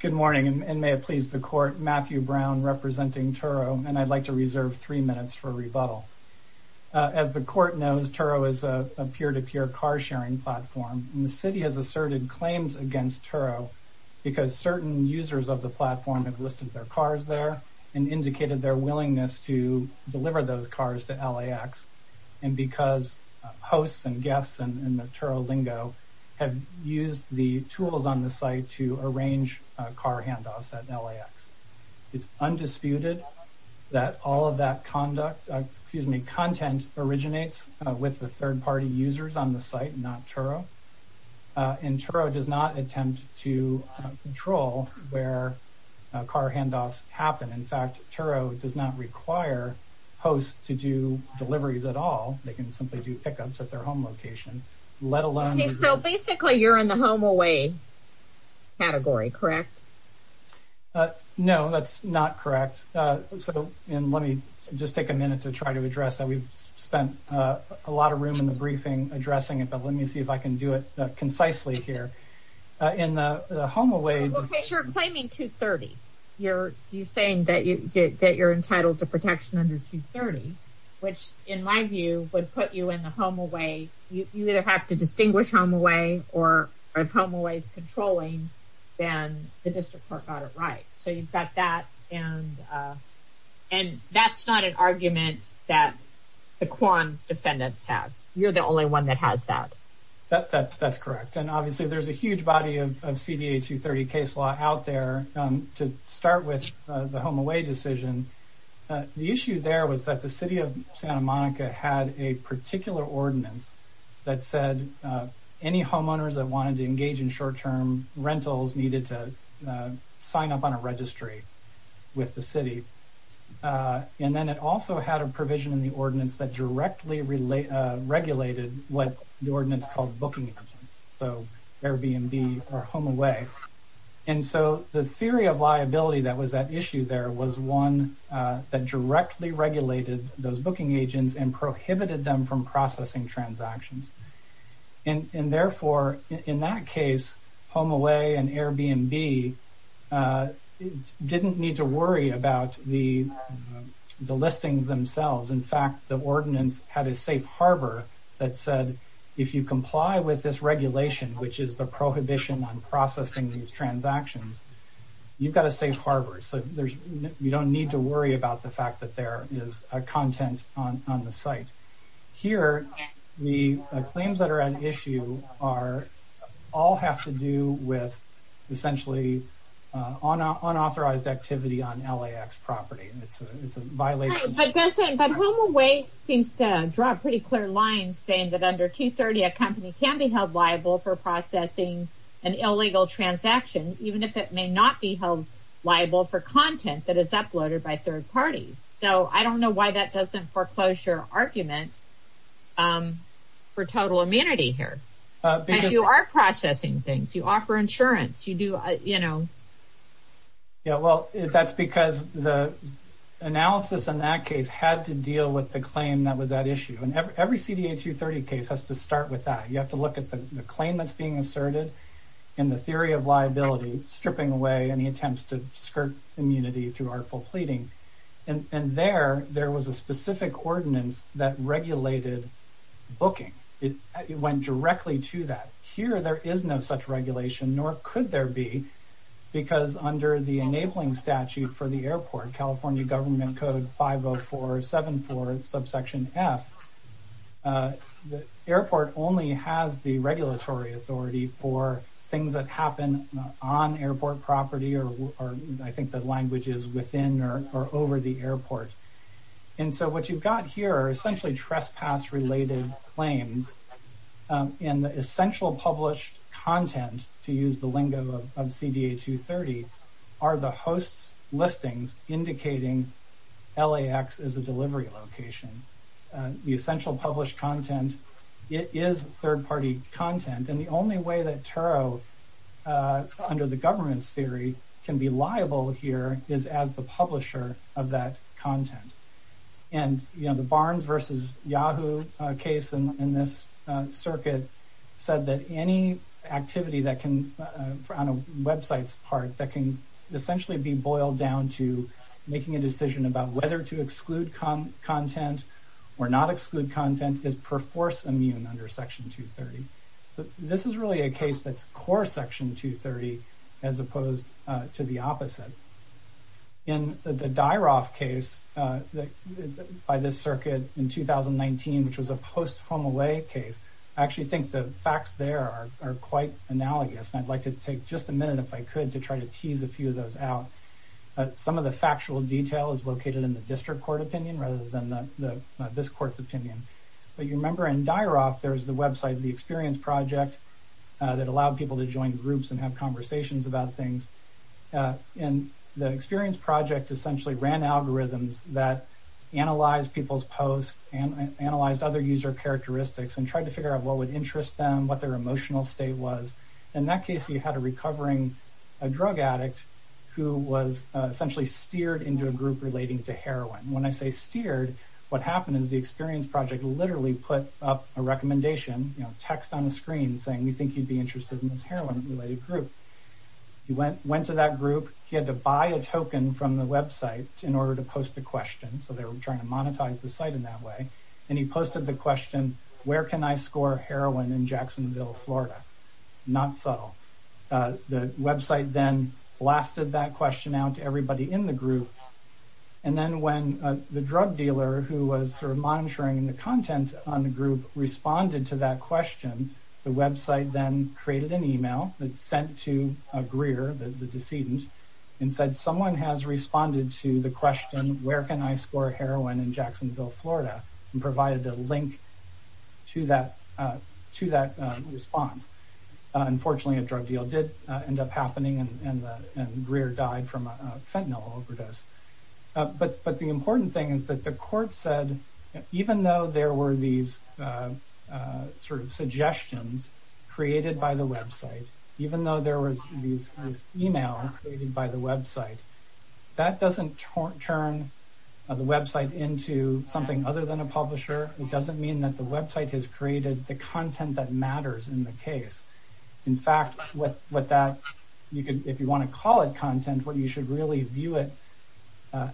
Good morning and may it please the court, Matthew Brown representing Turo and I'd like to reserve three minutes for a rebuttal. As the court knows, Turo is a peer-to-peer car sharing platform and the city has asserted claims against Turo because certain users of the platform have listed their cars there and indicated their willingness to deliver those cars to LAX. And because hosts and guests in the Turo lingo have used the tools on the site to arrange car handoffs at LAX. It's undisputed that all of that content originates with the third-party users on the site, not Turo. And Turo does not attempt to control where car handoffs happen. In fact, Turo does not require hosts to do deliveries at all. They can simply do pickups at their home location. So basically you're in the home away category, correct? No, that's not correct. Let me just take a minute to try to address that. We've spent a lot of room in the briefing addressing it, but let me see if I can do it concisely here. You're claiming 230. You're saying that you're entitled to protection under 230, which in my view would put you in the home away. You either have to distinguish home away or if home away is controlling, then the district court got it right. So you've got that. And that's not an argument that the Quan defendants have. You're the only one that has that. That's correct. And obviously there's a huge body of CDA 230 case law out there to start with the home away decision. The issue there was that the city of Santa Monica had a particular ordinance that said any homeowners that wanted to engage in short term rentals needed to sign up on a registry with the city. And then it also had a provision in the ordinance that directly regulated what the ordinance called booking. So Airbnb or home away. And so the theory of liability that was at issue there was one that directly regulated those booking agents and prohibited them from processing transactions. And therefore, in that case, home away and Airbnb didn't need to worry about the listings themselves. In fact, the ordinance had a safe harbor that said, if you comply with this regulation, which is the prohibition on processing these transactions, you've got a safe harbor. So you don't need to worry about the fact that there is a content on the site here. The claims that are an issue are all have to do with essentially on unauthorized activity on LAX property. But home away seems to draw a pretty clear line saying that under 230, a company can be held liable for processing an illegal transaction, even if it may not be held liable for content that is uploaded by third parties. So I don't know why that doesn't foreclosure argument for total immunity here. You are processing things, you offer insurance, you do, you know. Yeah, well, that's because the analysis in that case had to deal with the claim that was at issue. And every CDA 230 case has to start with that. You have to look at the claim that's being asserted in the theory of liability, stripping away any attempts to skirt immunity through artful pleading. And there there was a specific ordinance that regulated booking. It went directly to that. Here there is no such regulation, nor could there be. Because under the enabling statute for the airport, California government code 50474 subsection F. The airport only has the regulatory authority for things that happen on airport property or I think the languages within or over the airport. And so what you've got here are essentially trespass related claims in the essential published content to use the lingo of CDA 230 are the hosts listings indicating LAX is a delivery location. The essential published content is third party content. And the only way that Turo under the government's theory can be liable here is as the publisher of that content. And, you know, the Barnes versus Yahoo case in this circuit said that any activity that can on a website's part that can essentially be boiled down to making a decision about whether to exclude content or not exclude content is perforce immune under section 230. This is really a case that's core section 230 as opposed to the opposite. In the dire off case by this circuit in 2019, which was a post home away case, actually think the facts there are quite analogous. And I'd like to take just a minute if I could to try to tease a few of those out. Some of the factual detail is located in the district court opinion rather than the this court's opinion. But you remember in dire off, there's the website, the experience project that allowed people to join groups and have conversations about things. And the experience project essentially ran algorithms that analyze people's posts and analyzed other user characteristics and tried to figure out what would interest them, what their emotional state was. In that case, you had a recovering a drug addict who was essentially steered into a group relating to heroin. When I say steered, what happened is the experience project literally put up a recommendation, text on the screen saying, we think you'd be interested in this heroin related group. He went to that group, he had to buy a token from the website in order to post the question. So they were trying to monetize the site in that way. And he posted the question, where can I score heroin in Jacksonville, Florida? Not subtle. The website then blasted that question out to everybody in the group. And then when the drug dealer who was monitoring the content on the group responded to that question, the website then created an email that sent to Greer, the decedent, and said, someone has responded to the question, where can I score heroin in Jacksonville, Florida? And provided a link to that response. Unfortunately, a drug deal did end up happening and Greer died from a fentanyl overdose. But the important thing is that the court said, even though there were these sort of suggestions created by the website, even though there was this email created by the website, that doesn't turn the website into something other than a publisher. It doesn't mean that the website has created the content that matters in the case. In fact, if you want to call it content, what you should really view it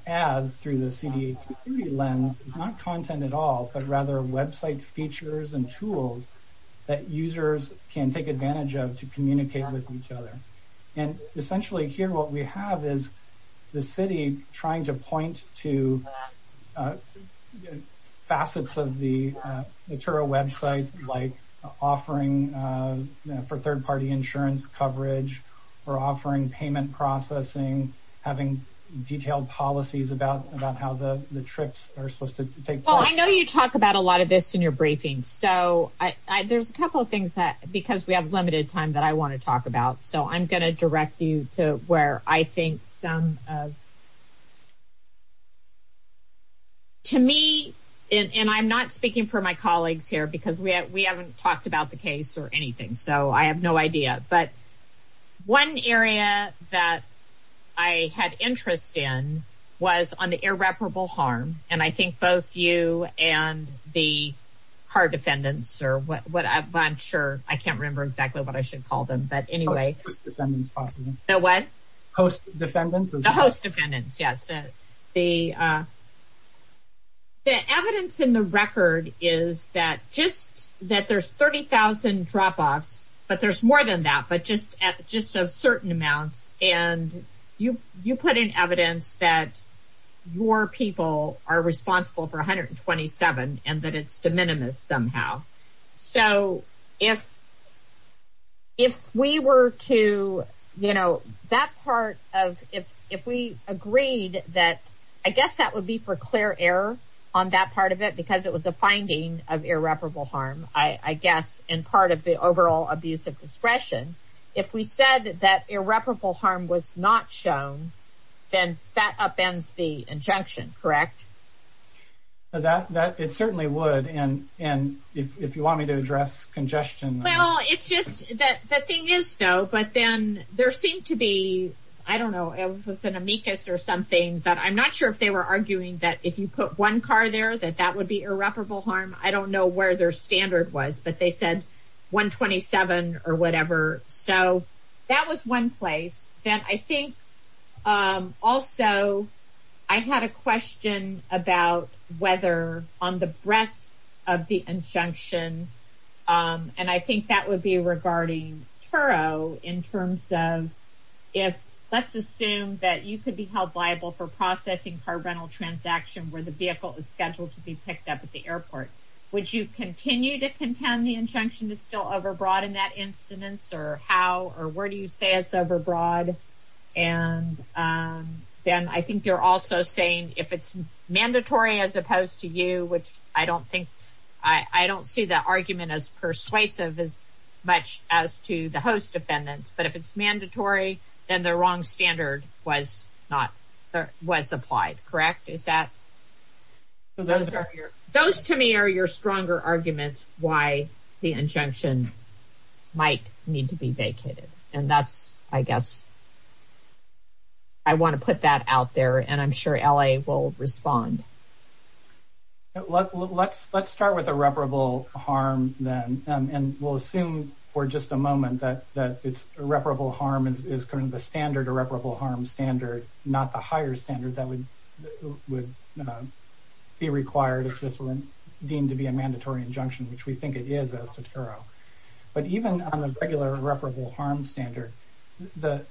as through the CD community lens is not content at all, but rather website features and tools that users can take advantage of to communicate with each other. And essentially here what we have is the city trying to point to facets of the website, like offering for third party insurance coverage, or offering payment processing, having detailed policies about how the trips are supposed to take place. I know you talk about a lot of this in your briefing, so there's a couple of things that, because we have limited time that I want to talk about, so I'm going to direct you to where I think some of... To me, and I'm not speaking for my colleagues here, because we haven't talked about the case or anything, so I have no idea, but one area that I had interest in was on the irreparable harm. And I think both you and the hard defendants, or whatever, I'm sure, I can't remember exactly what I should call them, but anyway... Post defendants, possibly. The what? Post defendants. The post defendants, yes. The evidence in the record is that just that there's 30,000 drop-offs, but there's more than that, but just of certain amounts, and you put in evidence that your people are responsible for 127, and that it's de minimis somehow. So, if we were to, you know, that part of, if we agreed that, I guess that would be for clear error on that part of it, because it was a finding of irreparable harm, I guess, and part of the overall abuse of discretion. If we said that irreparable harm was not shown, then that upends the injunction, correct? It certainly would, and if you want me to address congestion... Well, it's just that the thing is, though, but then there seemed to be, I don't know, it was an amicus or something, but I'm not sure if they were arguing that if you put one car there, that that would be irreparable harm. I don't know where their standard was, but they said 127 or whatever, so that was one place that I think also I had a question about whether on the breadth of the injunction, and I think that would be regarding Turo in terms of if, let's assume that you could be held liable for processing car rental transaction where the vehicle is scheduled to be picked up at the airport. Would you continue to contend the injunction is still overbroad in that incidence, or how, or where do you say it's overbroad? And then I think you're also saying if it's mandatory as opposed to you, which I don't think, I don't see that argument as persuasive as much as to the host defendant, but if it's mandatory, then the wrong standard was not, was applied, correct? Is that... Those to me are your stronger arguments why the injunction might need to be vacated, and that's, I guess, I want to put that out there, and I'm sure LA will respond. Let's start with irreparable harm then, and we'll assume for just a moment that irreparable harm is kind of the standard irreparable harm standard, not the higher standard that would be required if this were deemed to be a mandatory injunction, which we think it is as to Turo. But even on the regular irreparable harm standard, the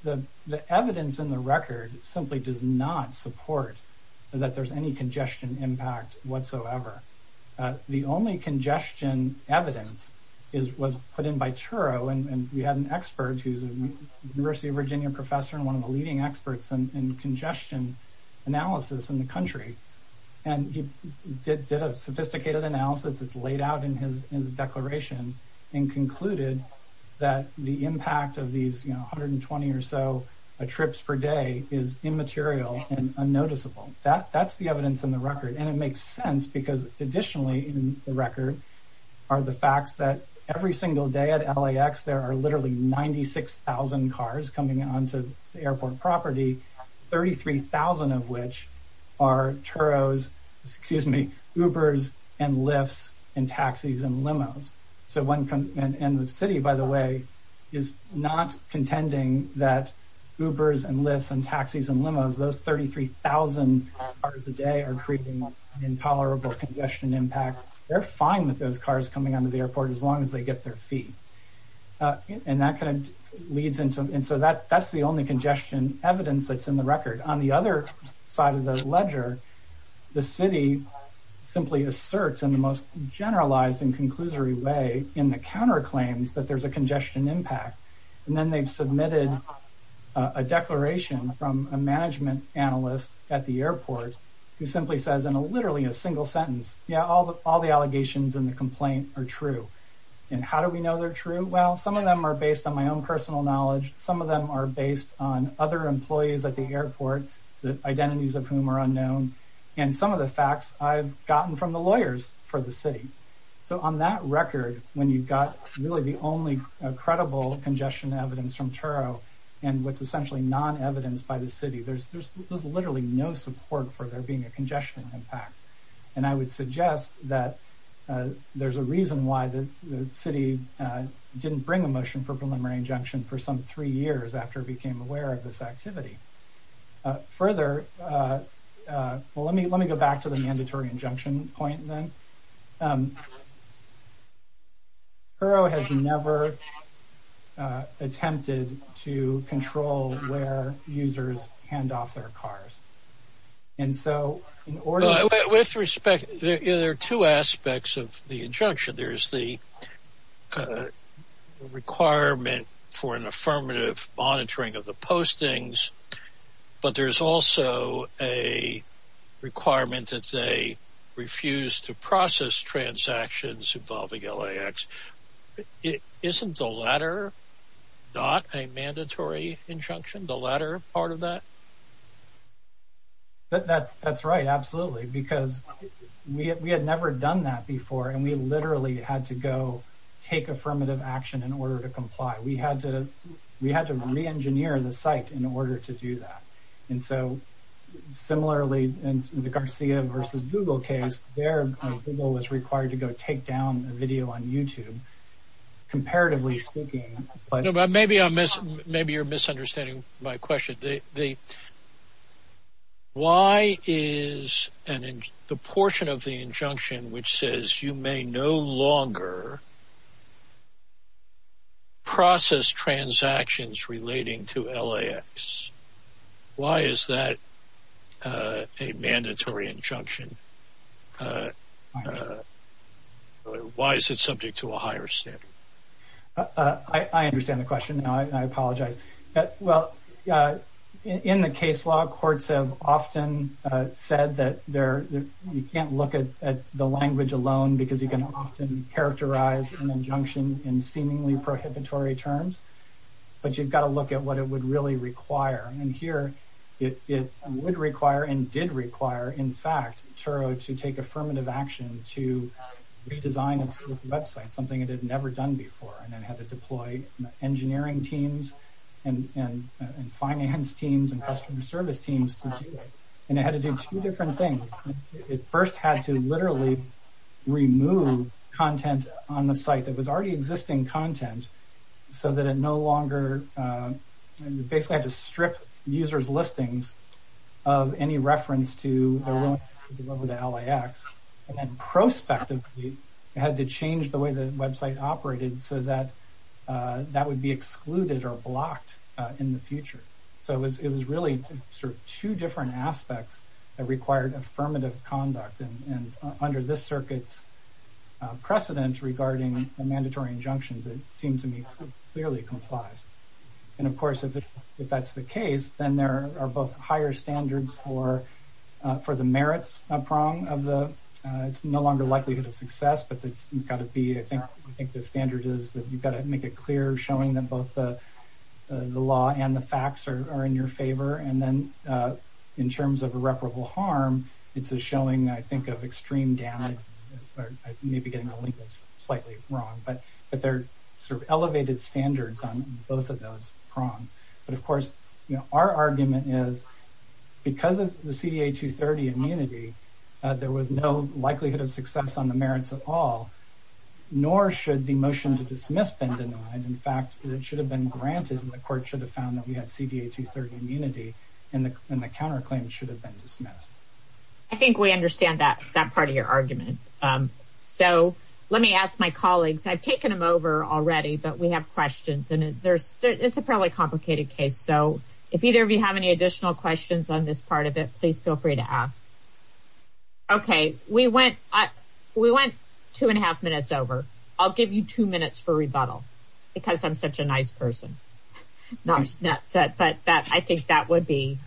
evidence in the record simply does not support that there's any congestion impact whatsoever. The only congestion evidence was put in by Turo, and we had an expert who's a University of Virginia professor and one of the leading experts in congestion analysis in the country. And he did a sophisticated analysis that's laid out in his declaration and concluded that the impact of these 120 or so trips per day is immaterial and unnoticeable. That's the evidence in the record, and it makes sense because additionally in the record are the facts that every single day at LAX there are literally 96,000 cars coming onto the airport property, 33,000 of which are Turos, excuse me, Ubers and Lyfts and taxis and limos. And the city, by the way, is not contending that Ubers and Lyfts and taxis and limos, those 33,000 cars a day are creating an intolerable congestion impact. They're fine with those cars coming onto the airport as long as they get their fee. And that kind of leads into, and so that's the only congestion evidence that's in the record. On the other side of the ledger, the city simply asserts in the most generalized and conclusory way in the counterclaims that there's a congestion impact. And then they've submitted a declaration from a management analyst at the airport who simply says in literally a single sentence, yeah, all the allegations in the complaint are true. And how do we know they're true? Well, some of them are based on my own personal knowledge. Some of them are based on other employees at the airport, the identities of whom are unknown. And some of the facts I've gotten from the lawyers for the city. So on that record, when you've got really the only credible congestion evidence from Turo and what's essentially non-evidenced by the city, there's literally no support for there being a congestion impact. And I would suggest that there's a reason why the city didn't bring a motion for preliminary injunction for some three years after it became aware of this activity. Further, let me go back to the mandatory injunction point then. Turo has never attempted to control where users hand off their cars. And so in order to… Isn't the latter not a mandatory injunction, the latter part of that? Maybe you're misunderstanding my question. Why is the portion of the injunction which says you may no longer process transactions relating to LAX, why is that a mandatory injunction? Why is it subject to a higher standard? I understand the question now. I apologize. Well, in the case law, courts have often said that you can't look at the language alone because you can often characterize an injunction in seemingly prohibitory terms. But you've got to look at what it would really require. And here, it would require and did require, in fact, Turo to take affirmative action to redesign its website, something it had never done before. And it had to deploy engineering teams and finance teams and customer service teams to do it. And it had to do two different things. It first had to literally remove content on the site that was already existing content so that it no longer… basically had to strip users' listings of any reference to the LAX. And then prospectively, it had to change the way the website operated so that that would be excluded or blocked in the future. So it was really sort of two different aspects that required affirmative conduct. And under this circuit's precedent regarding mandatory injunctions, it seemed to me clearly complies. And of course, if that's the case, then there are both higher standards for the merits prong of the… it's no longer likelihood of success, but it's got to be… I think the standard is that you've got to make it clear, showing that both the law and the facts are in your favor. And then in terms of irreparable harm, it's a showing, I think, of extreme damage. I may be getting slightly wrong, but there are sort of elevated standards on both of those prongs. But of course, our argument is because of the CDA 230 immunity, there was no likelihood of success on the merits at all, nor should the motion to dismiss been denied. In fact, it should have been granted and the court should have found that we had CDA 230 immunity and the counterclaim should have been dismissed. I think we understand that part of your argument. So let me ask my colleagues. I've taken them over already, but we have questions. And it's a fairly complicated case. So if either of you have any additional questions on this part of it, please feel free to ask. Okay, we went two and a half minutes over. I'll give you two minutes for rebuttal because I'm such a nice person. But I think that would be…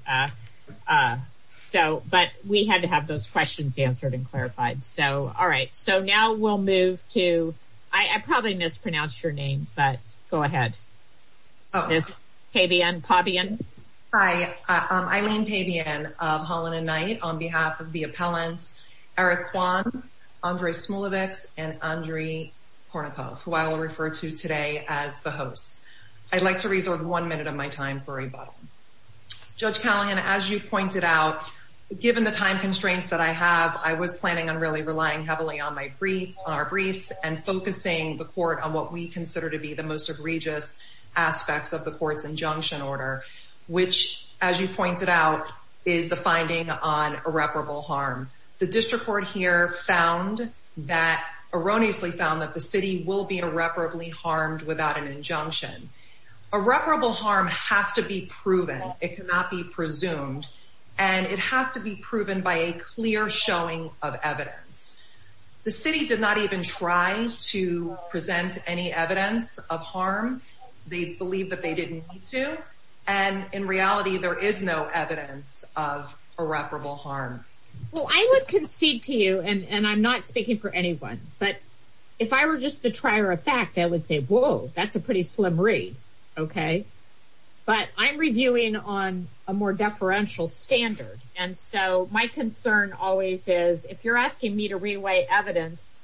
but we had to have those questions answered and clarified. So, all right. So now we'll move to… I probably mispronounced your name, but go ahead, Ms. Pabian. Hi, I'm Eileen Pabian of Holland and Knight on behalf of the appellants, Eric Kwan, Andre Smulevitz, and Andre Kornikov, who I will refer to today as the hosts. I'd like to reserve one minute of my time for rebuttal. Judge Callahan, as you pointed out, given the time constraints that I have, I was planning on really relying heavily on our briefs and focusing the court on what we consider to be the most egregious aspects of the court's injunction order, which, as you pointed out, is the finding on irreparable harm. The district court here found that… erroneously found that the city will be irreparably harmed without an injunction. Irreparable harm has to be proven. It cannot be presumed. And it has to be proven by a clear showing of evidence. The city did not even try to present any evidence of harm. They believe that they didn't need to. And in reality, there is no evidence of irreparable harm. Well, I would concede to you, and I'm not speaking for anyone, but if I were just the trier of fact, I would say, whoa, that's a pretty slim read. Okay. But I'm reviewing on a more deferential standard. And so my concern always is, if you're asking me to reweigh evidence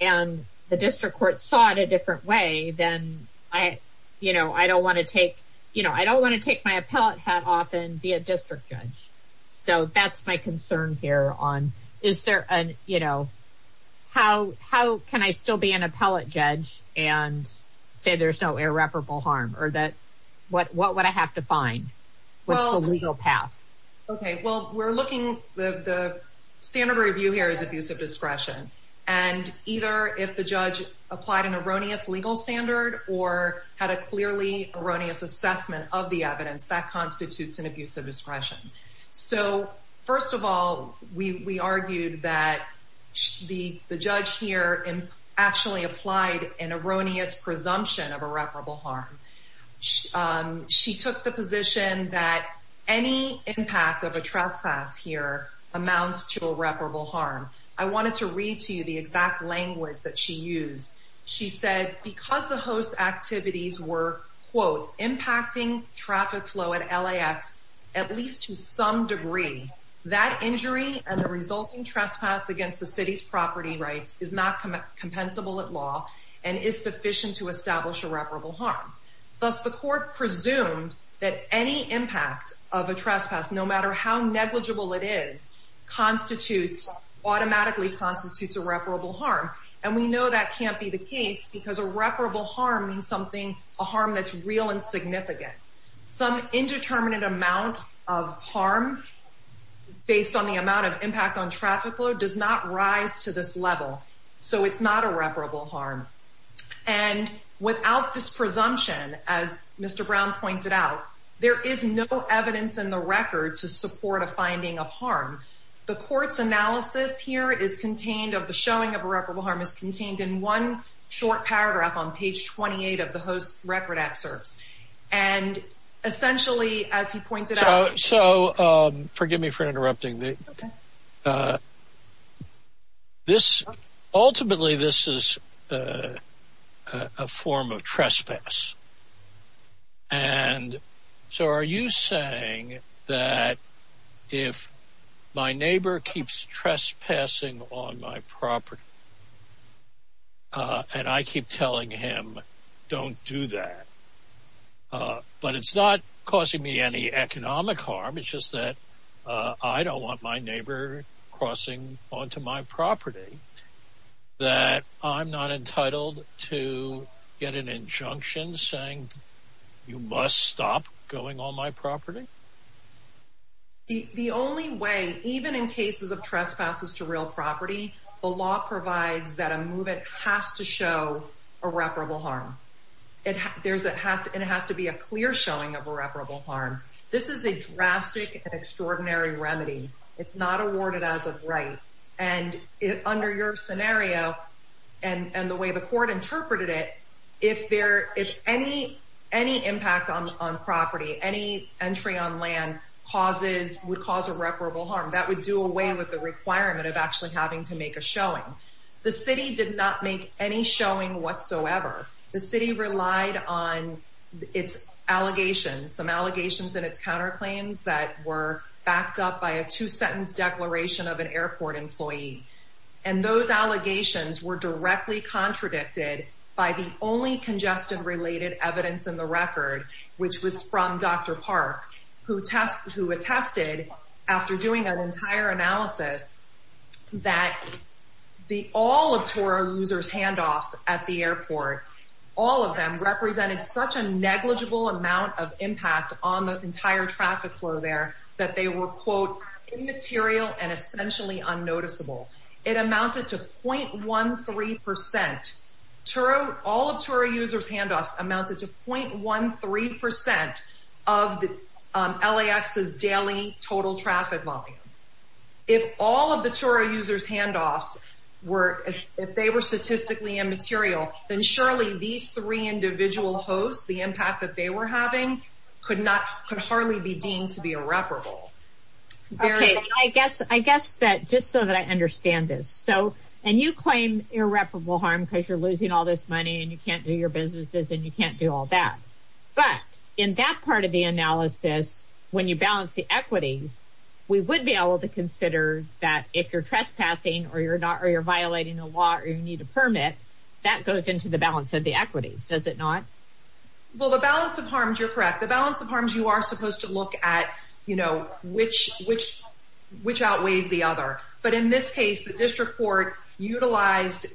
and the district court saw it a different way, then I, you know, I don't want to take, you know, I don't want to take my appellate hat off and be a district judge. So that's my concern here on, is there an, you know, how, how can I still be an appellate judge and say there's no irreparable harm or that, what, what would I have to find? What's the legal path? Okay, well, we're looking, the standard review here is abusive discretion. And either if the judge applied an erroneous legal standard or had a clearly erroneous assessment of the evidence, that constitutes an abusive discretion. So first of all, we argued that the judge here actually applied an erroneous presumption of irreparable harm. She took the position that any impact of a trespass here amounts to irreparable harm. I wanted to read to you the exact language that she used. She said, because the host activities were, quote, impacting traffic flow at LAX, at least to some degree, that injury and the resulting trespass against the city's property rights is not compensable at law and is sufficient to establish irreparable harm. Thus, the court presumed that any impact of a trespass, no matter how negligible it is, constitutes, automatically constitutes irreparable harm. And we know that can't be the case because irreparable harm means something, a harm that's real and significant. Some indeterminate amount of harm based on the amount of impact on traffic flow does not rise to this level. So it's not irreparable harm. And without this presumption, as Mr. Brown pointed out, there is no evidence in the record to support a finding of harm. The court's analysis here is contained of the showing of irreparable harm is contained in one short paragraph on page 28 of the host record excerpts. And essentially, as he pointed out. So forgive me for interrupting this. Ultimately, this is a form of trespass. And so are you saying that if my neighbor keeps trespassing on my property? And I keep telling him, don't do that. But it's not causing me any economic harm. It's just that I don't want my neighbor crossing onto my property, that I'm not entitled to get an injunction saying you must stop going on my property. The only way, even in cases of trespasses to real property, the law provides that a movement has to show irreparable harm. It has to be a clear showing of irreparable harm. This is a drastic and extraordinary remedy. It's not awarded as a right. And under your scenario, and the way the court interpreted it, if any impact on property, any entry on land would cause irreparable harm, that would do away with the requirement of actually having to make a showing. The city did not make any showing whatsoever. The city relied on its allegations, some allegations and its counterclaims that were backed up by a two-sentence declaration of an airport employee. And those allegations were directly contradicted by the only congestion-related evidence in the record, which was from Dr. Park, who attested, after doing an entire analysis, that all of Toro Losers' handoffs at the airport, all of them, represented such a negligible amount of impact on the entire traffic flow there that they were, quote, immaterial and essentially unnoticeable. It amounted to 0.13%. All of Toro Losers' handoffs amounted to 0.13% of LAX's daily total traffic volume. If all of the Toro Losers' handoffs were, if they were statistically immaterial, then surely these three individual hosts, the impact that they were having, could hardly be deemed to be irreparable. Okay, I guess, I guess that, just so that I understand this, so, and you claim irreparable harm because you're losing all this money and you can't do your businesses and you can't do all that. But, in that part of the analysis, when you balance the equities, we would be able to consider that if you're trespassing or you're not, or you're violating the law or you need a permit, that goes into the balance of the equities, does it not? Well, the balance of harms, you're correct. The balance of harms, you are supposed to look at, you know, which, which, which outweighs the other. But in this case, the district court utilized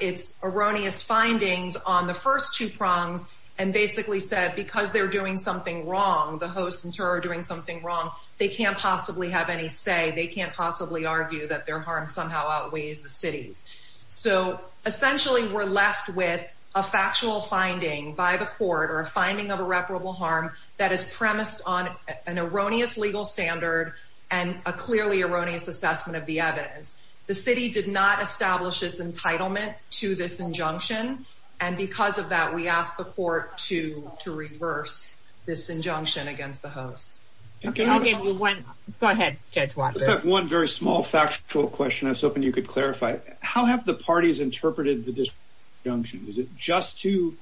its erroneous findings on the first two prongs and basically said, because they're doing something wrong, the hosts in Toro are doing something wrong, they can't possibly have any say. They can't possibly argue that their harm somehow outweighs the city's. So, essentially, we're left with a factual finding by the court or a finding of irreparable harm that is premised on an erroneous legal standard and a clearly erroneous assessment of the evidence. The city did not establish its entitlement to this injunction. And because of that, we asked the court to, to reverse this injunction against the hosts. I'll give you one. Go ahead, Judge Walker. One very small factual question. I was hoping you could clarify. How have the parties interpreted this injunction? Is it just to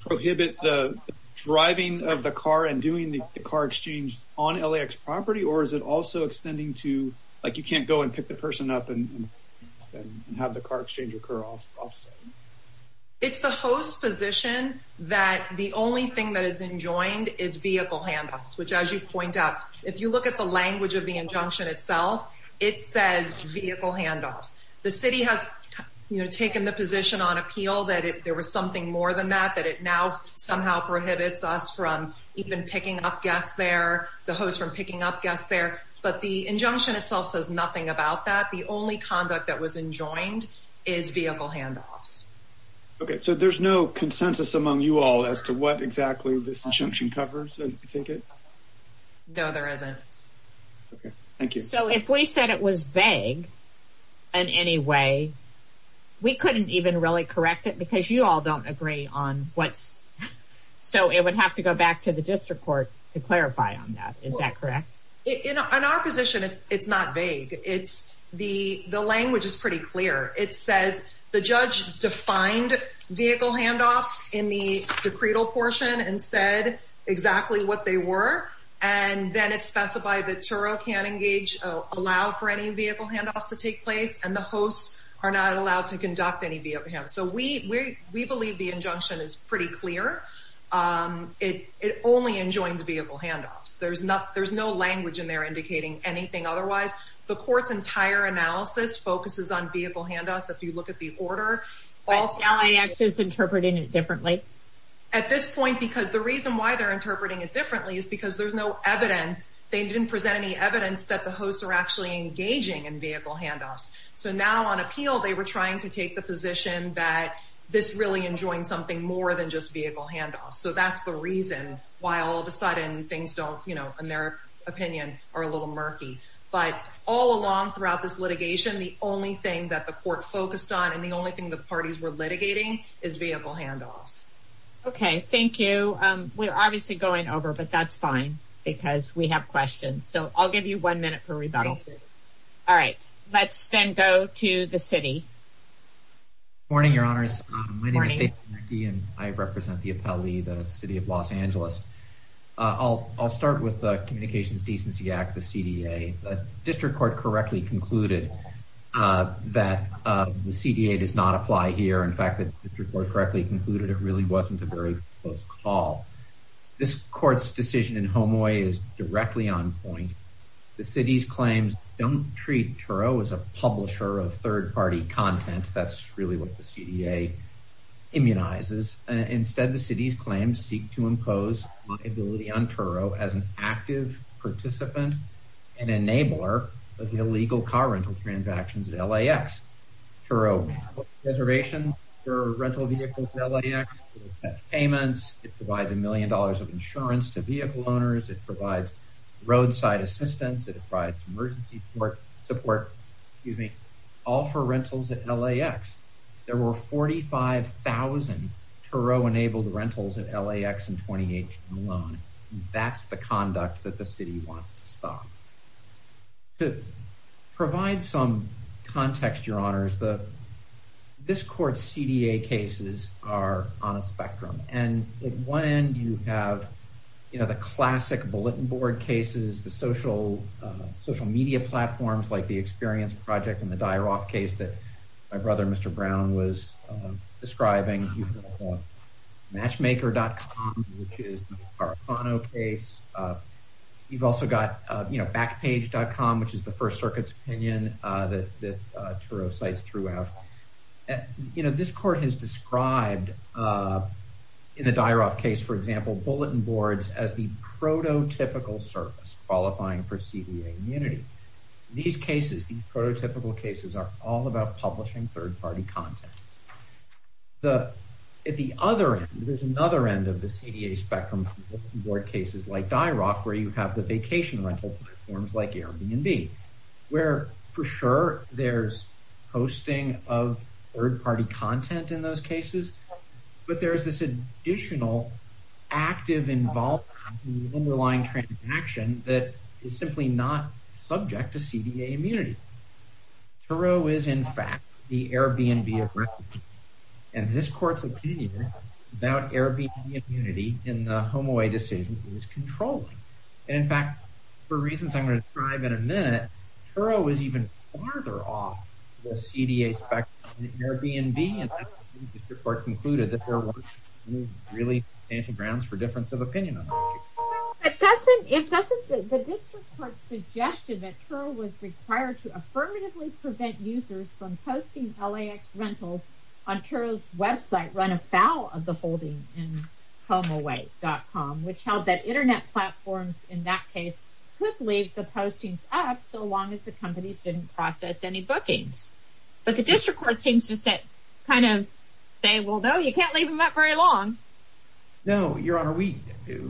prohibit the driving of the car and doing the car exchange on LAX property? Or is it also extending to, like, you can't go and pick the person up and have the car exchange occur off-site? It's the host's position that the only thing that is enjoined is vehicle handoffs, which, as you point out, if you look at the language of the injunction itself, it says vehicle handoffs. The city has, you know, taken the position on appeal that if there was something more than that, that it now somehow prohibits us from even picking up guests there, the host from picking up guests there. But the injunction itself says nothing about that. The only conduct that was enjoined is vehicle handoffs. Okay. So there's no consensus among you all as to what exactly this injunction covers? No, there isn't. Okay. Thank you. So if we said it was vague in any way, we couldn't even really correct it because you all don't agree on what's, so it would have to go back to the district court to clarify on that. Is that correct? In our position, it's not vague. It's the, the language is pretty clear. It says the judge defined vehicle handoffs in the decretal portion and said exactly what they were. And then it's specified that Turo can't engage, allow for any vehicle handoffs to take place, and the hosts are not allowed to conduct any vehicle handoffs. So we, we, we believe the injunction is pretty clear. It, it only enjoins vehicle handoffs. There's not, there's no language in there indicating anything otherwise. The court's entire analysis focuses on vehicle handoffs, if you look at the order. But LAX is interpreting it differently. At this point, because the reason why they're interpreting it differently is because there's no evidence, they didn't present any evidence that the hosts are actually engaging in vehicle handoffs. So now on appeal, they were trying to take the position that this really enjoined something more than just vehicle handoffs. So that's the reason why all of a sudden things don't, you know, in their opinion are a little murky, but all along throughout this litigation, the only thing that the court focused on and the only thing the parties were litigating is vehicle handoffs. Okay, thank you. We're obviously going over, but that's fine because we have questions. So I'll give you one minute for rebuttal. All right, let's then go to the city. Good morning, your honors. My name is David McKee and I represent the appellee, the city of Los Angeles. I'll, I'll start with the Communications Decency Act, the CDA. The district court correctly concluded that the CDA does not apply here. In fact, the district court correctly concluded it really wasn't a very close call. This court's decision in Homoi is directly on point. The city's claims don't treat Turo as a publisher of third party content. That's really what the CDA immunizes. Instead, the city's claims seek to impose liability on Turo as an active participant and enabler of the illegal car rental transactions at LAX. Turo has reservations for rental vehicles at LAX. It provides payments. It provides a million dollars of insurance to vehicle owners. It provides roadside assistance. It provides emergency support, excuse me, all for rentals at LAX. There were 45,000 Turo-enabled rentals at LAX in 2018 alone. That's the conduct that the city wants to stop. To provide some context, your honors, the, this court's CDA cases are on a spectrum. And at one end, you have, you know, the classic bulletin board cases, the social media platforms like the Experience Project and the Dyer-Roth case that my brother, Mr. Brown, was describing. You've got matchmaker.com, which is the Caracano case. You've also got, you know, backpage.com, which is the First Circuit's opinion that Turo's sites threw out. You know, this court has described, in the Dyer-Roth case, for example, bulletin boards as the prototypical service qualifying for CDA immunity. These cases, these prototypical cases, are all about publishing third-party content. The, at the other end, there's another end of the CDA spectrum, bulletin board cases like Dyer-Roth, where you have the vacation rental platforms like Airbnb, where, for sure, there's posting of third-party content in those cases, but there's this additional active involvement in the underlying transaction that is simply not subject to CDA immunity. Turo is, in fact, the Airbnb of recognition, and this court's opinion about Airbnb immunity in the HomeAway decision is controlling. And, in fact, for reasons I'm going to describe in a minute, Turo is even farther off the CDA spectrum than Airbnb, and that's when the district court concluded that there weren't really any grounds for difference of opinion on the issue. But doesn't, if doesn't, the district court suggested that Turo was required to affirmatively prevent users from posting LAX rentals on Turo's website run afoul of the holding in HomeAway.com, which held that internet platforms, in that case, could leave the postings up so long as the companies didn't process any bookings. But the district court seems to say, kind of, say, well, no, you can't leave them up very long. No, Your Honor, we do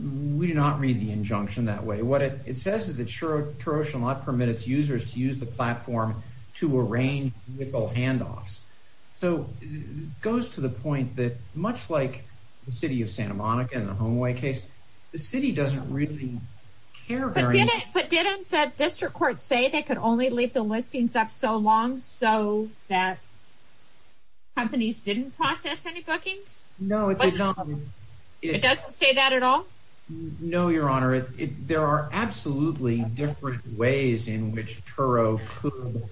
not read the injunction that way. What it says is that Turo's law permits users to use the platform to arrange legal handoffs. So, it goes to the point that, much like the city of Santa Monica and the HomeAway case, the city doesn't really care very much. But didn't the district court say they could only leave the listings up so long so that companies didn't process any bookings? No, it did not. It doesn't say that at all? No, Your Honor. There are absolutely different ways in which Turo could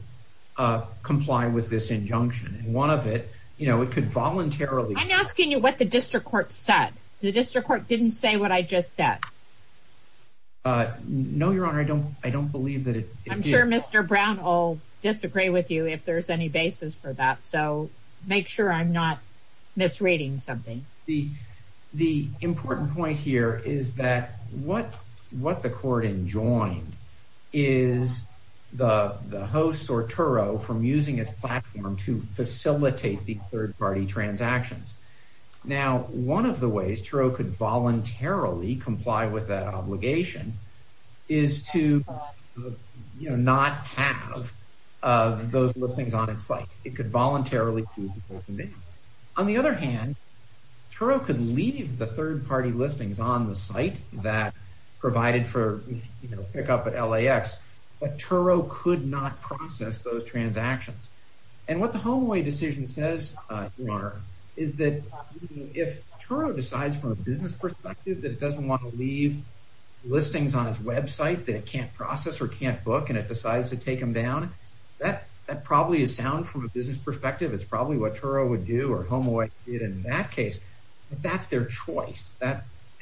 comply with this injunction. One of it, you know, it could voluntarily… I'm asking you what the district court said. The district court didn't say what I just said. No, Your Honor, I don't believe that it did. I'm sure Mr. Brown will disagree with you if there's any basis for that. So, make sure I'm not misreading something. The important point here is that what the court enjoined is the host or Turo from using its platform to facilitate the third-party transactions. Now, one of the ways Turo could voluntarily comply with that obligation is to, you know, not have those listings on its site. On the other hand, Turo could leave the third-party listings on the site that provided for pickup at LAX, but Turo could not process those transactions. And what the HomeAway decision says, Your Honor, is that if Turo decides from a business perspective that it doesn't want to leave listings on its website that it can't process or can't book and it decides to take them down, that probably is sound from a business perspective. It's probably what Turo would do or HomeAway did in that case. But that's their choice,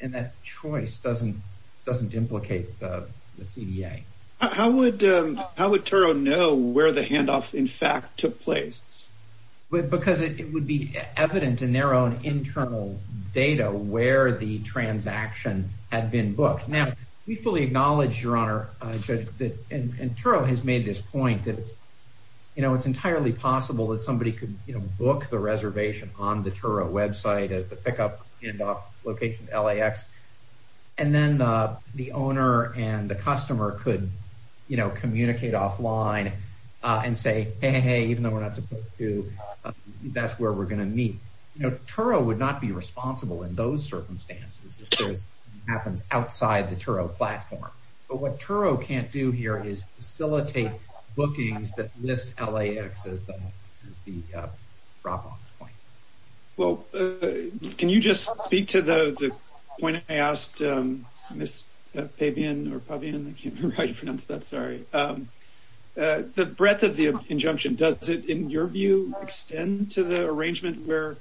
and that choice doesn't implicate the CDA. How would Turo know where the handoff, in fact, took place? Because it would be evident in their own internal data where the transaction had been booked. Now, we fully acknowledge, Your Honor, and Turo has made this point that, you know, it's entirely possible that somebody could book the reservation on the Turo website as the pickup handoff location at LAX, and then the owner and the customer could, you know, communicate offline and say, hey, hey, hey, even though we're not supposed to, that's where we're going to meet. You know, Turo would not be responsible in those circumstances if this happens outside the Turo platform. But what Turo can't do here is facilitate bookings that list LAX as the drop-off point. Well, can you just speak to the point I asked Ms. Pabian? The breadth of the injunction, does it, in your view, extend to the arrangement where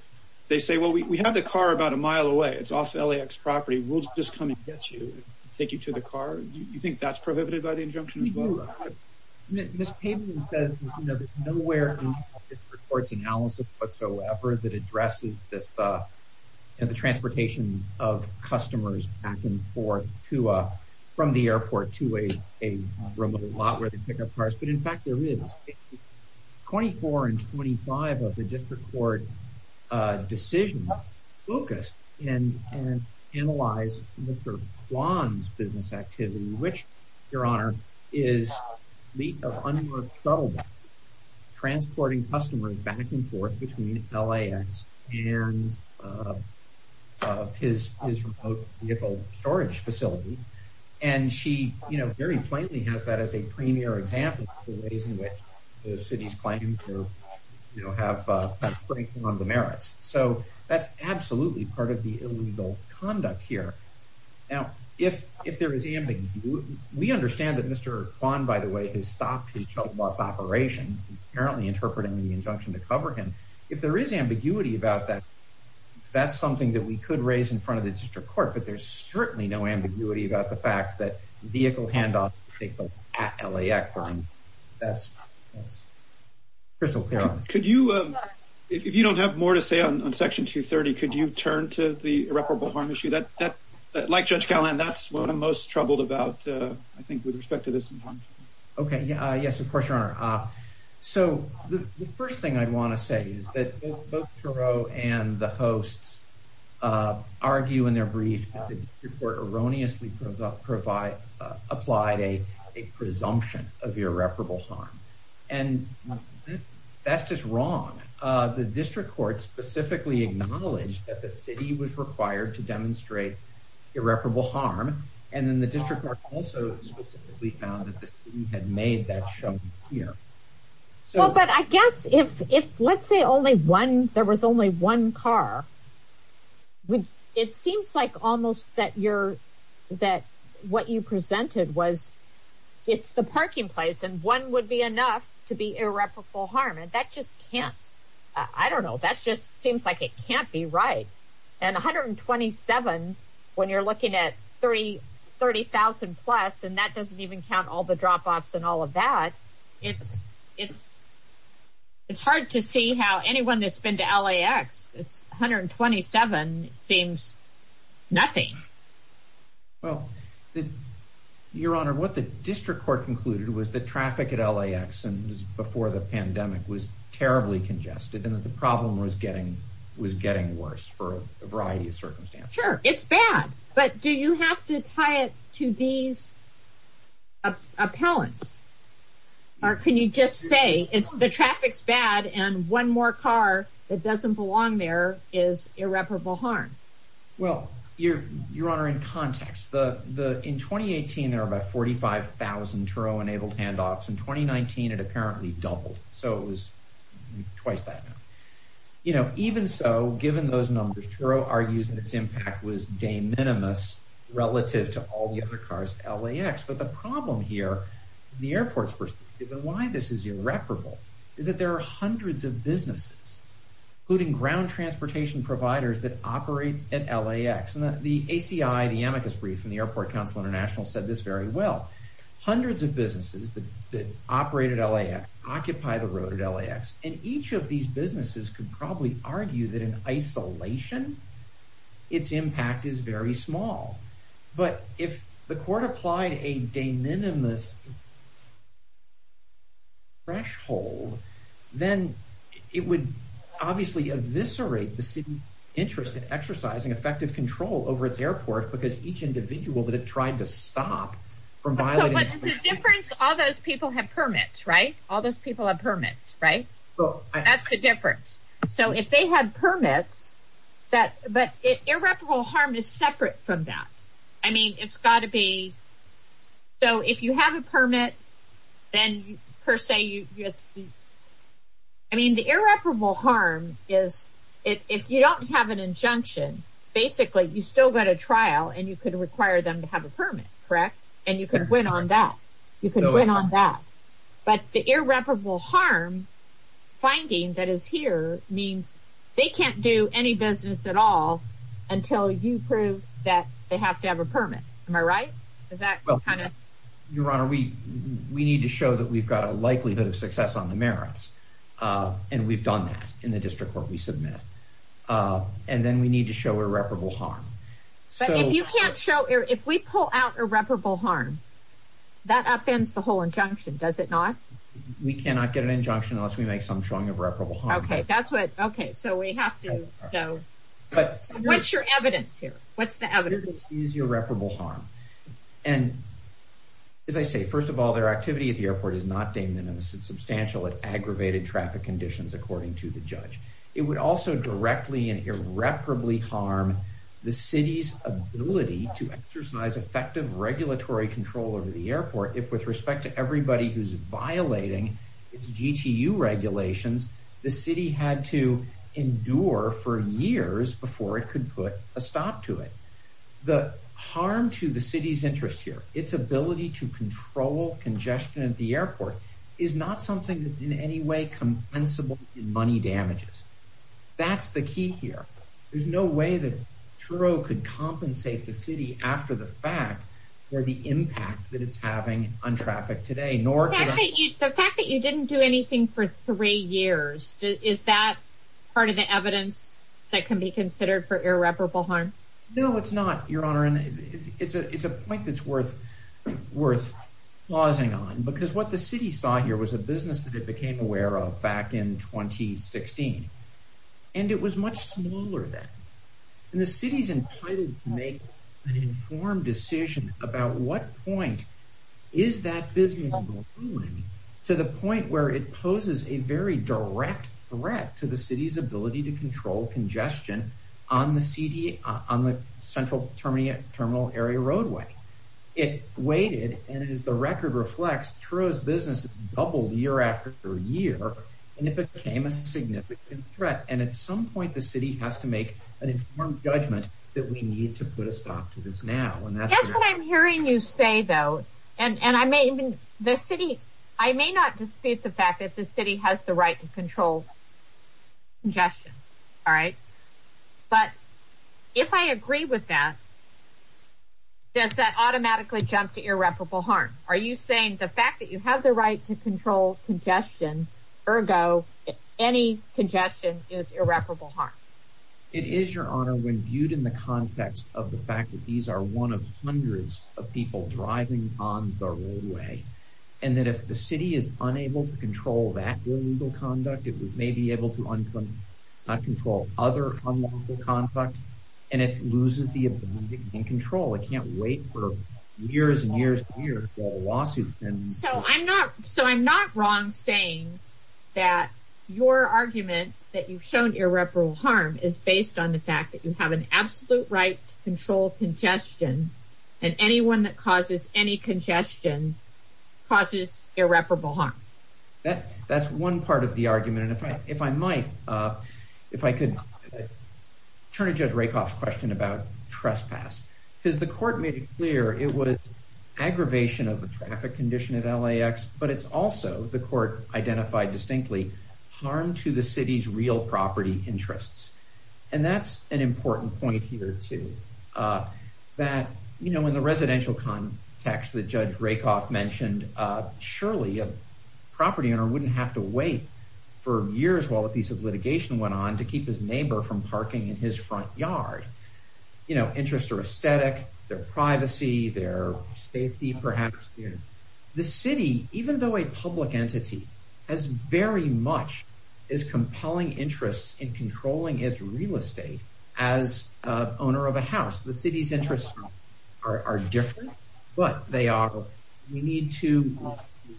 they say, well, we have the car about a mile away. It's off LAX property. We'll just come and get you, take you to the car. Do you think that's prohibited by the injunction as well? Ms. Pabian says there's nowhere in the district court's analysis whatsoever that addresses the transportation of customers back and forth from the airport to a remote lot where they pick up cars. But, in fact, there is. Twenty-four and twenty-five of the district court decisions focus and analyze Mr. Kwan's business activity, which, Your Honor, is the unresettled transporting customers back and forth between LAX and his remote vehicle storage facility. And she, you know, very plainly has that as a premier example of the ways in which the city's claim to, you know, have a break on the merits. So that's absolutely part of the illegal conduct here. Now, if there is ambiguity, we understand that Mr. Kwan, by the way, has stopped his shuttle bus operation, apparently interpreting the injunction to cover him. If there is ambiguity about that, that's something that we could raise in front of the district court. But there's certainly no ambiguity about the fact that vehicle handoffs take place at LAX. That's crystal clear. Could you, if you don't have more to say on Section 230, could you turn to the irreparable harm issue? Like Judge Callahan, that's what I'm most troubled about, I think, with respect to this injunction. Okay. Yes, of course, Your Honor. So the first thing I want to say is that both Thoreau and the hosts argue in their brief that the district court erroneously applied a presumption of irreparable harm. The district court specifically acknowledged that the city was required to demonstrate irreparable harm. And then the district court also specifically found that the city had made that show here. Well, but I guess if, let's say there was only one car, it seems like almost that what you presented was it's the parking place and one would be enough to be irreparable harm. And that just can't, I don't know, that just seems like it can't be right. And 127, when you're looking at 30,000 plus, and that doesn't even count all the drop-offs and all of that, it's hard to see how anyone that's been to LAX, 127 seems nothing. Well, Your Honor, what the district court concluded was that traffic at LAX and before the pandemic was terribly congested and that the problem was getting worse for a variety of circumstances. Sure, it's bad, but do you have to tie it to these appellants? Or can you just say it's the traffic's bad and one more car that doesn't belong there is irreparable harm? Well, Your Honor, in context, in 2018, there were about 45,000 Turo-enabled handoffs. In 2019, it apparently doubled, so it was twice that now. You know, even so, given those numbers, Turo argues that its impact was de minimis relative to all the other cars at LAX. But the problem here, the airport's perspective, and why this is irreparable, is that there are hundreds of businesses, including ground transportation providers that operate at LAX. And the ACI, the amicus brief from the Airport Council International said this very well. Hundreds of businesses that operate at LAX occupy the road at LAX. And each of these businesses could probably argue that in isolation, its impact is very small. But if the court applied a de minimis threshold, then it would obviously eviscerate the city's interest in exercising effective control over its airport because each individual that it tried to stop from violating its plan. But the difference, all those people have permits, right? All those people have permits, right? That's the difference. So if they had permits, but irreparable harm is separate from that. I mean, it's got to be, so if you have a permit, then per se, I mean, the irreparable harm is if you don't have an injunction, basically you still got a trial and you could require them to have a permit, correct? And you can win on that. You can win on that. But the irreparable harm finding that is here means they can't do any business at all until you prove that they have to have a permit. Am I right? Your Honor, we need to show that we've got a likelihood of success on the merits. And we've done that in the district court we submit. And then we need to show irreparable harm. But if you can't show, if we pull out irreparable harm, that upends the whole injunction, does it not? We cannot get an injunction unless we make some showing of irreparable harm. Okay, that's what, okay, so we have to, so what's your evidence here? What's the evidence? The evidence is irreparable harm. And as I say, first of all, their activity at the airport is not deemed in a substantial and aggravated traffic conditions, according to the judge. It would also directly and irreparably harm the city's ability to exercise effective regulatory control over the airport if, with respect to everybody who's violating its GTU regulations, the city had to endure for years before it could put a stop to it. The harm to the city's interest here, its ability to control congestion at the airport, is not something that's in any way compensable in money damages. That's the key here. There's no way that Truro could compensate the city after the fact for the impact that it's having on traffic today. The fact that you didn't do anything for three years, is that part of the evidence that can be considered for irreparable harm? No, it's not, Your Honor, and it's a point that's worth pausing on, because what the city saw here was a business that it became aware of back in 2016, and it was much smaller then. And the city's entitled to make an informed decision about what point is that business moving to the point where it poses a very direct threat to the city's ability to control congestion on the central terminal area roadway. It waited, and as the record reflects, Truro's business doubled year after year, and it became a significant threat. And at some point, the city has to make an informed judgment that we need to put a stop to this now. That's what I'm hearing you say, though, and I may not dispute the fact that the city has the right to control congestion, but if I agree with that, does that automatically jump to irreparable harm? Are you saying the fact that you have the right to control congestion, ergo, any congestion is irreparable harm? It is, Your Honor, when viewed in the context of the fact that these are one of hundreds of people driving on the roadway, and that if the city is unable to control that illegal conduct, it may be able to control other unlawful conduct, and it loses the ability and control. It can't wait for years and years to hear a lawsuit. So I'm not wrong saying that your argument that you've shown irreparable harm is based on the fact that you have an absolute right to control congestion, and anyone that causes any congestion causes irreparable harm. That's one part of the argument, and if I might, if I could turn to Judge Rakoff's question about trespass, because the court made it clear it was aggravation of the traffic condition at LAX, but it's also, the court identified distinctly, harm to the city's real property interests. And that's an important point here, too, that, you know, in the residential context that Judge Rakoff mentioned, surely a property owner wouldn't have to wait for years while a piece of litigation went on to keep his neighbor from parking in his front yard. You know, interests are aesthetic, they're privacy, they're safety, perhaps. The city, even though a public entity, has very much as compelling interests in controlling his real estate as owner of a house. The city's interests are different, but they are, we need to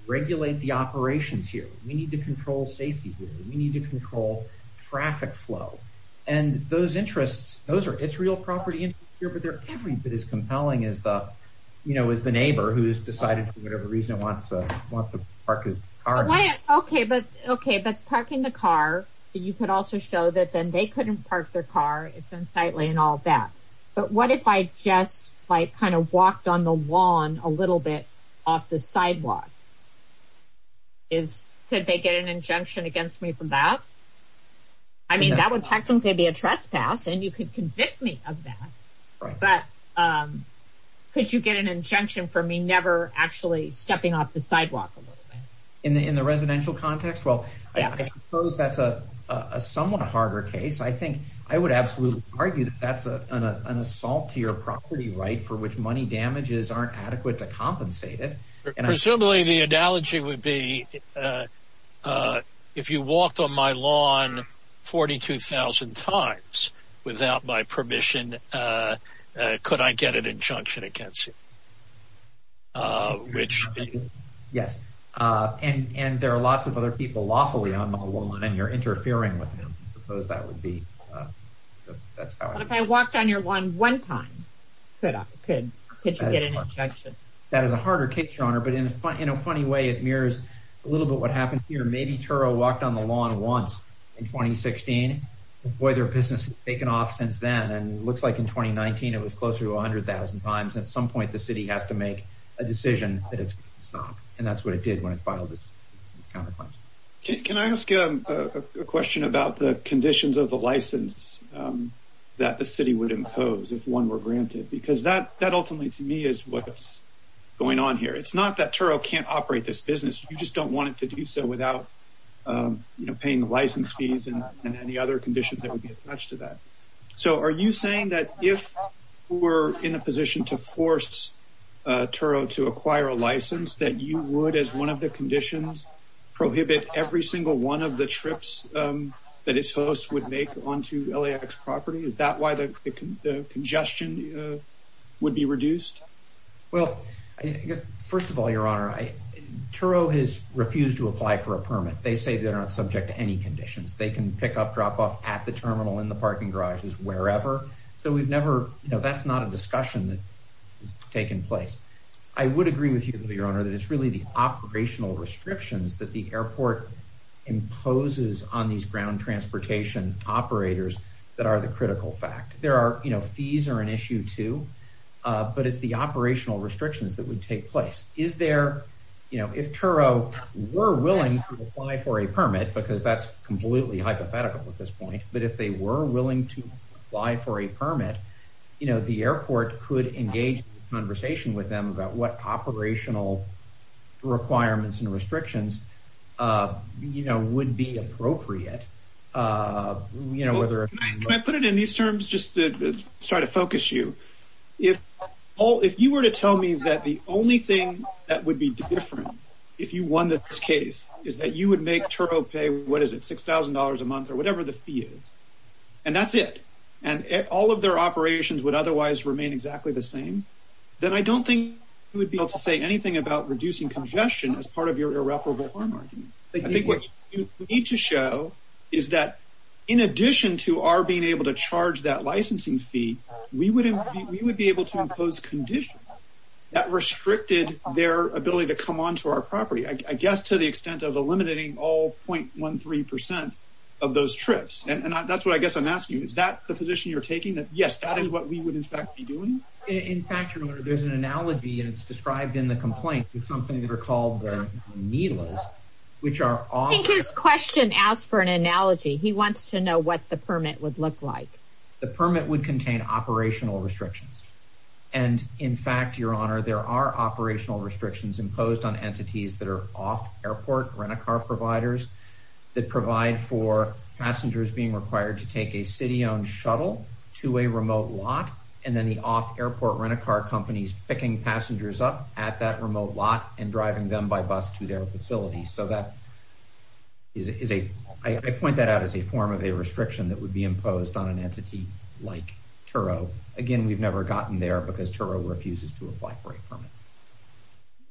regulate the operations here, we need to control safety here, we need to control traffic flow, and those interests, those are, it's real property interests here, but they're every bit as compelling as the, you know, as the neighbor who's decided for whatever reason wants to park his car. Okay, but parking the car, you could also show that then they couldn't park their car, it's unsightly and all that. But what if I just, like, kind of walked on the lawn a little bit off the sidewalk? Could they get an injunction against me for that? I mean, that would technically be a trespass, and you could convict me of that, but could you get an injunction for me never actually stepping off the sidewalk a little bit? In the residential context? Well, I suppose that's a somewhat harder case. I think, I would absolutely argue that that's an assault to your property right for which money damages aren't adequate to compensate it. Presumably the analogy would be, if you walked on my lawn 42,000 times without my permission, could I get an injunction against you? Yes. And there are lots of other people lawfully on my lawn, and you're interfering with them. I suppose that would be, that's how I would... What if I walked on your lawn one time? Could you get an injunction? That is a harder case, Your Honor. But in a funny way, it mirrors a little bit what happened here. Maybe Turo walked on the lawn once in 2016. Boy, their business has taken off since then. And it looks like in 2019, it was closer to 100,000 times. At some point, the city has to make a decision that it's going to stop. And that's what it did when it filed its counterclaims. Can I ask a question about the conditions of the license that the city would impose if one were granted? Because that ultimately, to me, is what's going on here. It's not that Turo can't operate this business. You just don't want it to do so without paying license fees and any other conditions that would be attached to that. So are you saying that if we're in a position to force Turo to acquire a license, that you would, as one of the conditions, prohibit every single one of the trips that its host would make onto LAX property? Is that why the congestion would be reduced? Well, first of all, your honor, Turo has refused to apply for a permit. They say they're not subject to any conditions. They can pick up, drop off at the terminal, in the parking garages, wherever. So that's not a discussion that has taken place. I would agree with you, your honor, that it's really the operational restrictions that the airport imposes on these ground transportation operators that are the critical fact. There are, you know, fees are an issue, too. But it's the operational restrictions that would take place. Is there, you know, if Turo were willing to apply for a permit, because that's completely hypothetical at this point, but if they were willing to apply for a permit, you know, the airport could engage in conversation with them about what operational requirements and restrictions, you know, would be appropriate. Can I put it in these terms just to try to focus you? If you were to tell me that the only thing that would be different if you won this case is that you would make Turo pay, what is it, $6,000 a month or whatever the fee is, and that's it, and all of their operations would otherwise remain exactly the same, then I don't think you would be able to say anything about reducing congestion as part of your irreparable harm argument. I think what you need to show is that in addition to our being able to charge that licensing fee, we would be able to impose conditions that restricted their ability to come onto our property, I guess to the extent of eliminating all .13% of those trips. And that's what I guess I'm asking you. Is that the position you're taking, that yes, that is what we would in fact be doing? In fact, your Honor, there's an analogy and it's described in the complaint with something that are called the NILAs, which are off... I think his question asked for an analogy. He wants to know what the permit would look like. The permit would contain operational restrictions. And in fact, your Honor, there are operational restrictions imposed on entities that are off-airport rent-a-car providers that provide for passengers being required to take a city-owned shuttle to a remote lot and then the off-airport rent-a-car companies picking passengers up at that remote lot and driving them by bus to their facility. So that is a... I point that out as a form of a restriction that would be imposed on an entity like Turo. Again, we've never gotten there because Turo refuses to apply for a permit.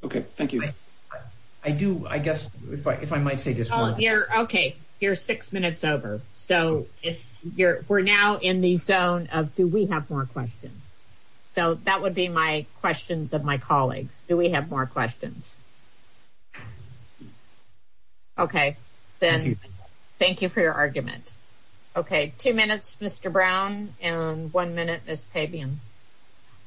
Okay, thank you. I do, I guess, if I might say just one... Okay, then thank you for your argument. Okay, two minutes, Mr. Brown, and one minute, Ms. Pabian.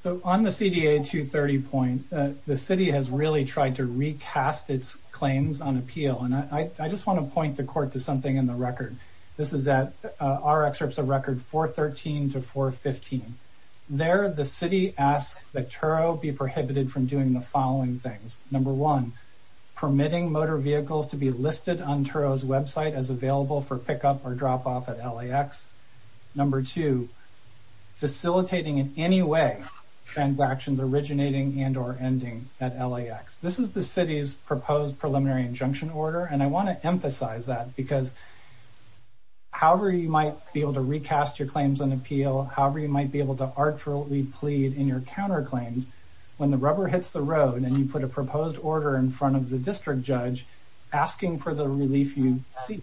So on the CDA 230 point, the city has really tried to recast its claims on appeal. And I just want to point the court to something in the record. This is our excerpts of record 413 to 415. There, the city asks that Turo be prohibited from doing the following things. Number one, permitting motor vehicles to be listed on Turo's website as available for pickup or drop off at LAX. Number two, facilitating in any way transactions originating and or ending at LAX. This is the city's proposed preliminary injunction order. And I want to emphasize that because however you might be able to recast your claims on appeal, however you might be able to artfully plead in your counterclaims, when the rubber hits the road and you put a proposed order in front of the district judge asking for the relief you seek,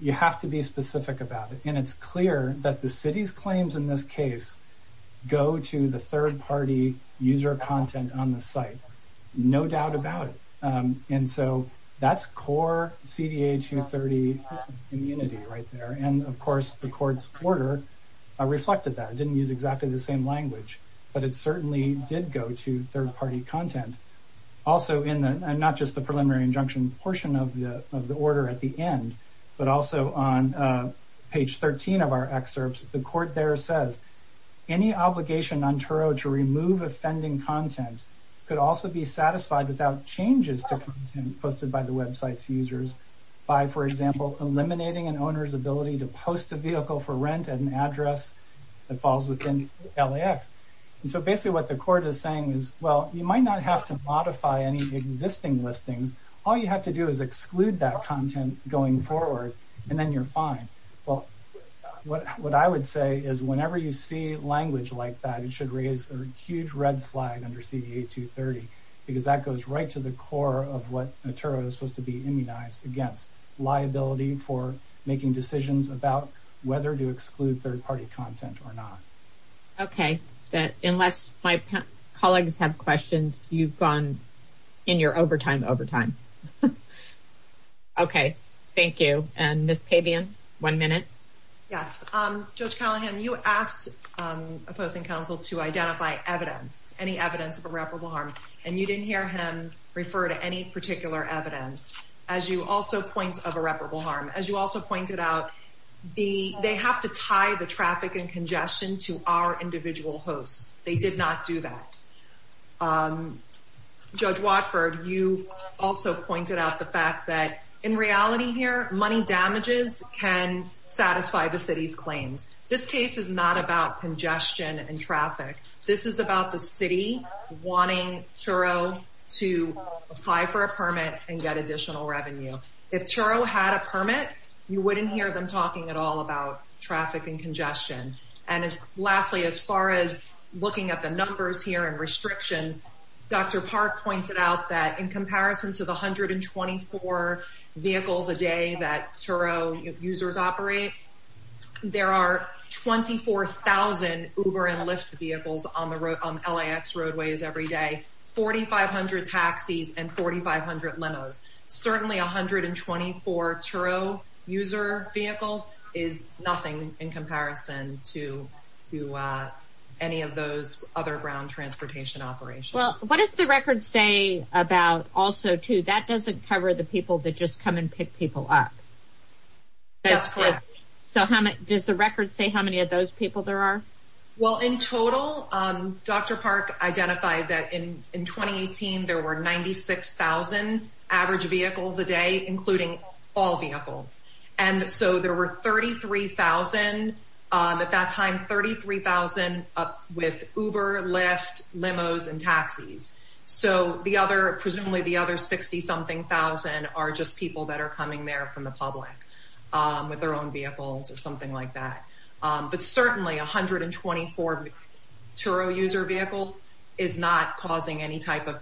you have to be specific about it. And it's clear that the city's claims in this case go to the third party user content on the site, no doubt about it. And so that's core CDA 230 immunity right there. And of course, the court's order reflected that. It didn't use exactly the same language, but it certainly did go to third party content. And not just the preliminary injunction portion of the order at the end, but also on page 13 of our excerpts, the court there says any obligation on Turo to remove offending content could also be satisfied without changes to content posted by the website's users by, for example, eliminating an owner's ability to post a vehicle for rent at an address that falls within LAX. And so basically what the court is saying is, well, you might not have to modify any existing listings. All you have to do is exclude that content going forward and then you're fine. Well, what I would say is whenever you see language like that, it should raise a huge red flag under CDA 230, because that goes right to the core of what Turo is supposed to be immunized against liability for making decisions about whether to exclude third party content or not. Okay. Unless my colleagues have questions, you've gone in your overtime overtime. Okay. Thank you. And Ms. Pabian, one minute. Yes. Judge Callahan, you asked opposing counsel to identify evidence, any evidence of irreparable harm, and you didn't hear him refer to any particular evidence. As you also point of irreparable harm, as you also pointed out, they have to tie the traffic and congestion to our individual hosts. They did not do that. Judge Watford, you also pointed out the fact that in reality here, money damages can satisfy the city's claims. This case is not about congestion and traffic. This is about the city wanting Turo to apply for a permit and get additional revenue. If Turo had a permit, you wouldn't hear them talking at all about traffic and congestion. And lastly, as far as looking at the numbers here and restrictions, Dr. Park pointed out that in comparison to the 124 vehicles a day that Turo users operate, there are 24,000 Uber and Lyft vehicles on the LAX roadways every day, 4,500 taxis, and 4,500 limos. Certainly, 124 Turo user vehicles is nothing in comparison to any of those other ground transportation operations. Well, what does the record say about also, too, that doesn't cover the people that just come and pick people up? That's correct. So does the record say how many of those people there are? Well, in total, Dr. Park identified that in 2018, there were 96,000 average vehicles a day, including all vehicles. And so there were 33,000 at that time, 33,000 with Uber, Lyft, limos, and taxis. So presumably, the other 60-something thousand are just people that are coming there from the public with their own vehicles or something like that. But certainly, 124 Turo user vehicles is not causing any type of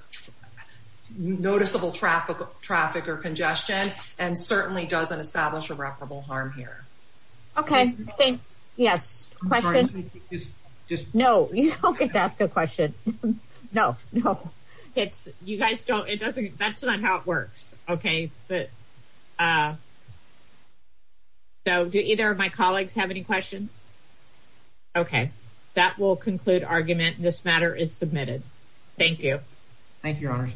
noticeable traffic or congestion, and certainly doesn't establish irreparable harm here. Okay, thank you. Yes, questions? No, you don't get to ask a question. No, no. You guys don't – that's not how it works. Okay, but – so do either of my colleagues have any questions? Okay, that will conclude argument. This matter is submitted. Thank you. Thank you, Your Honors.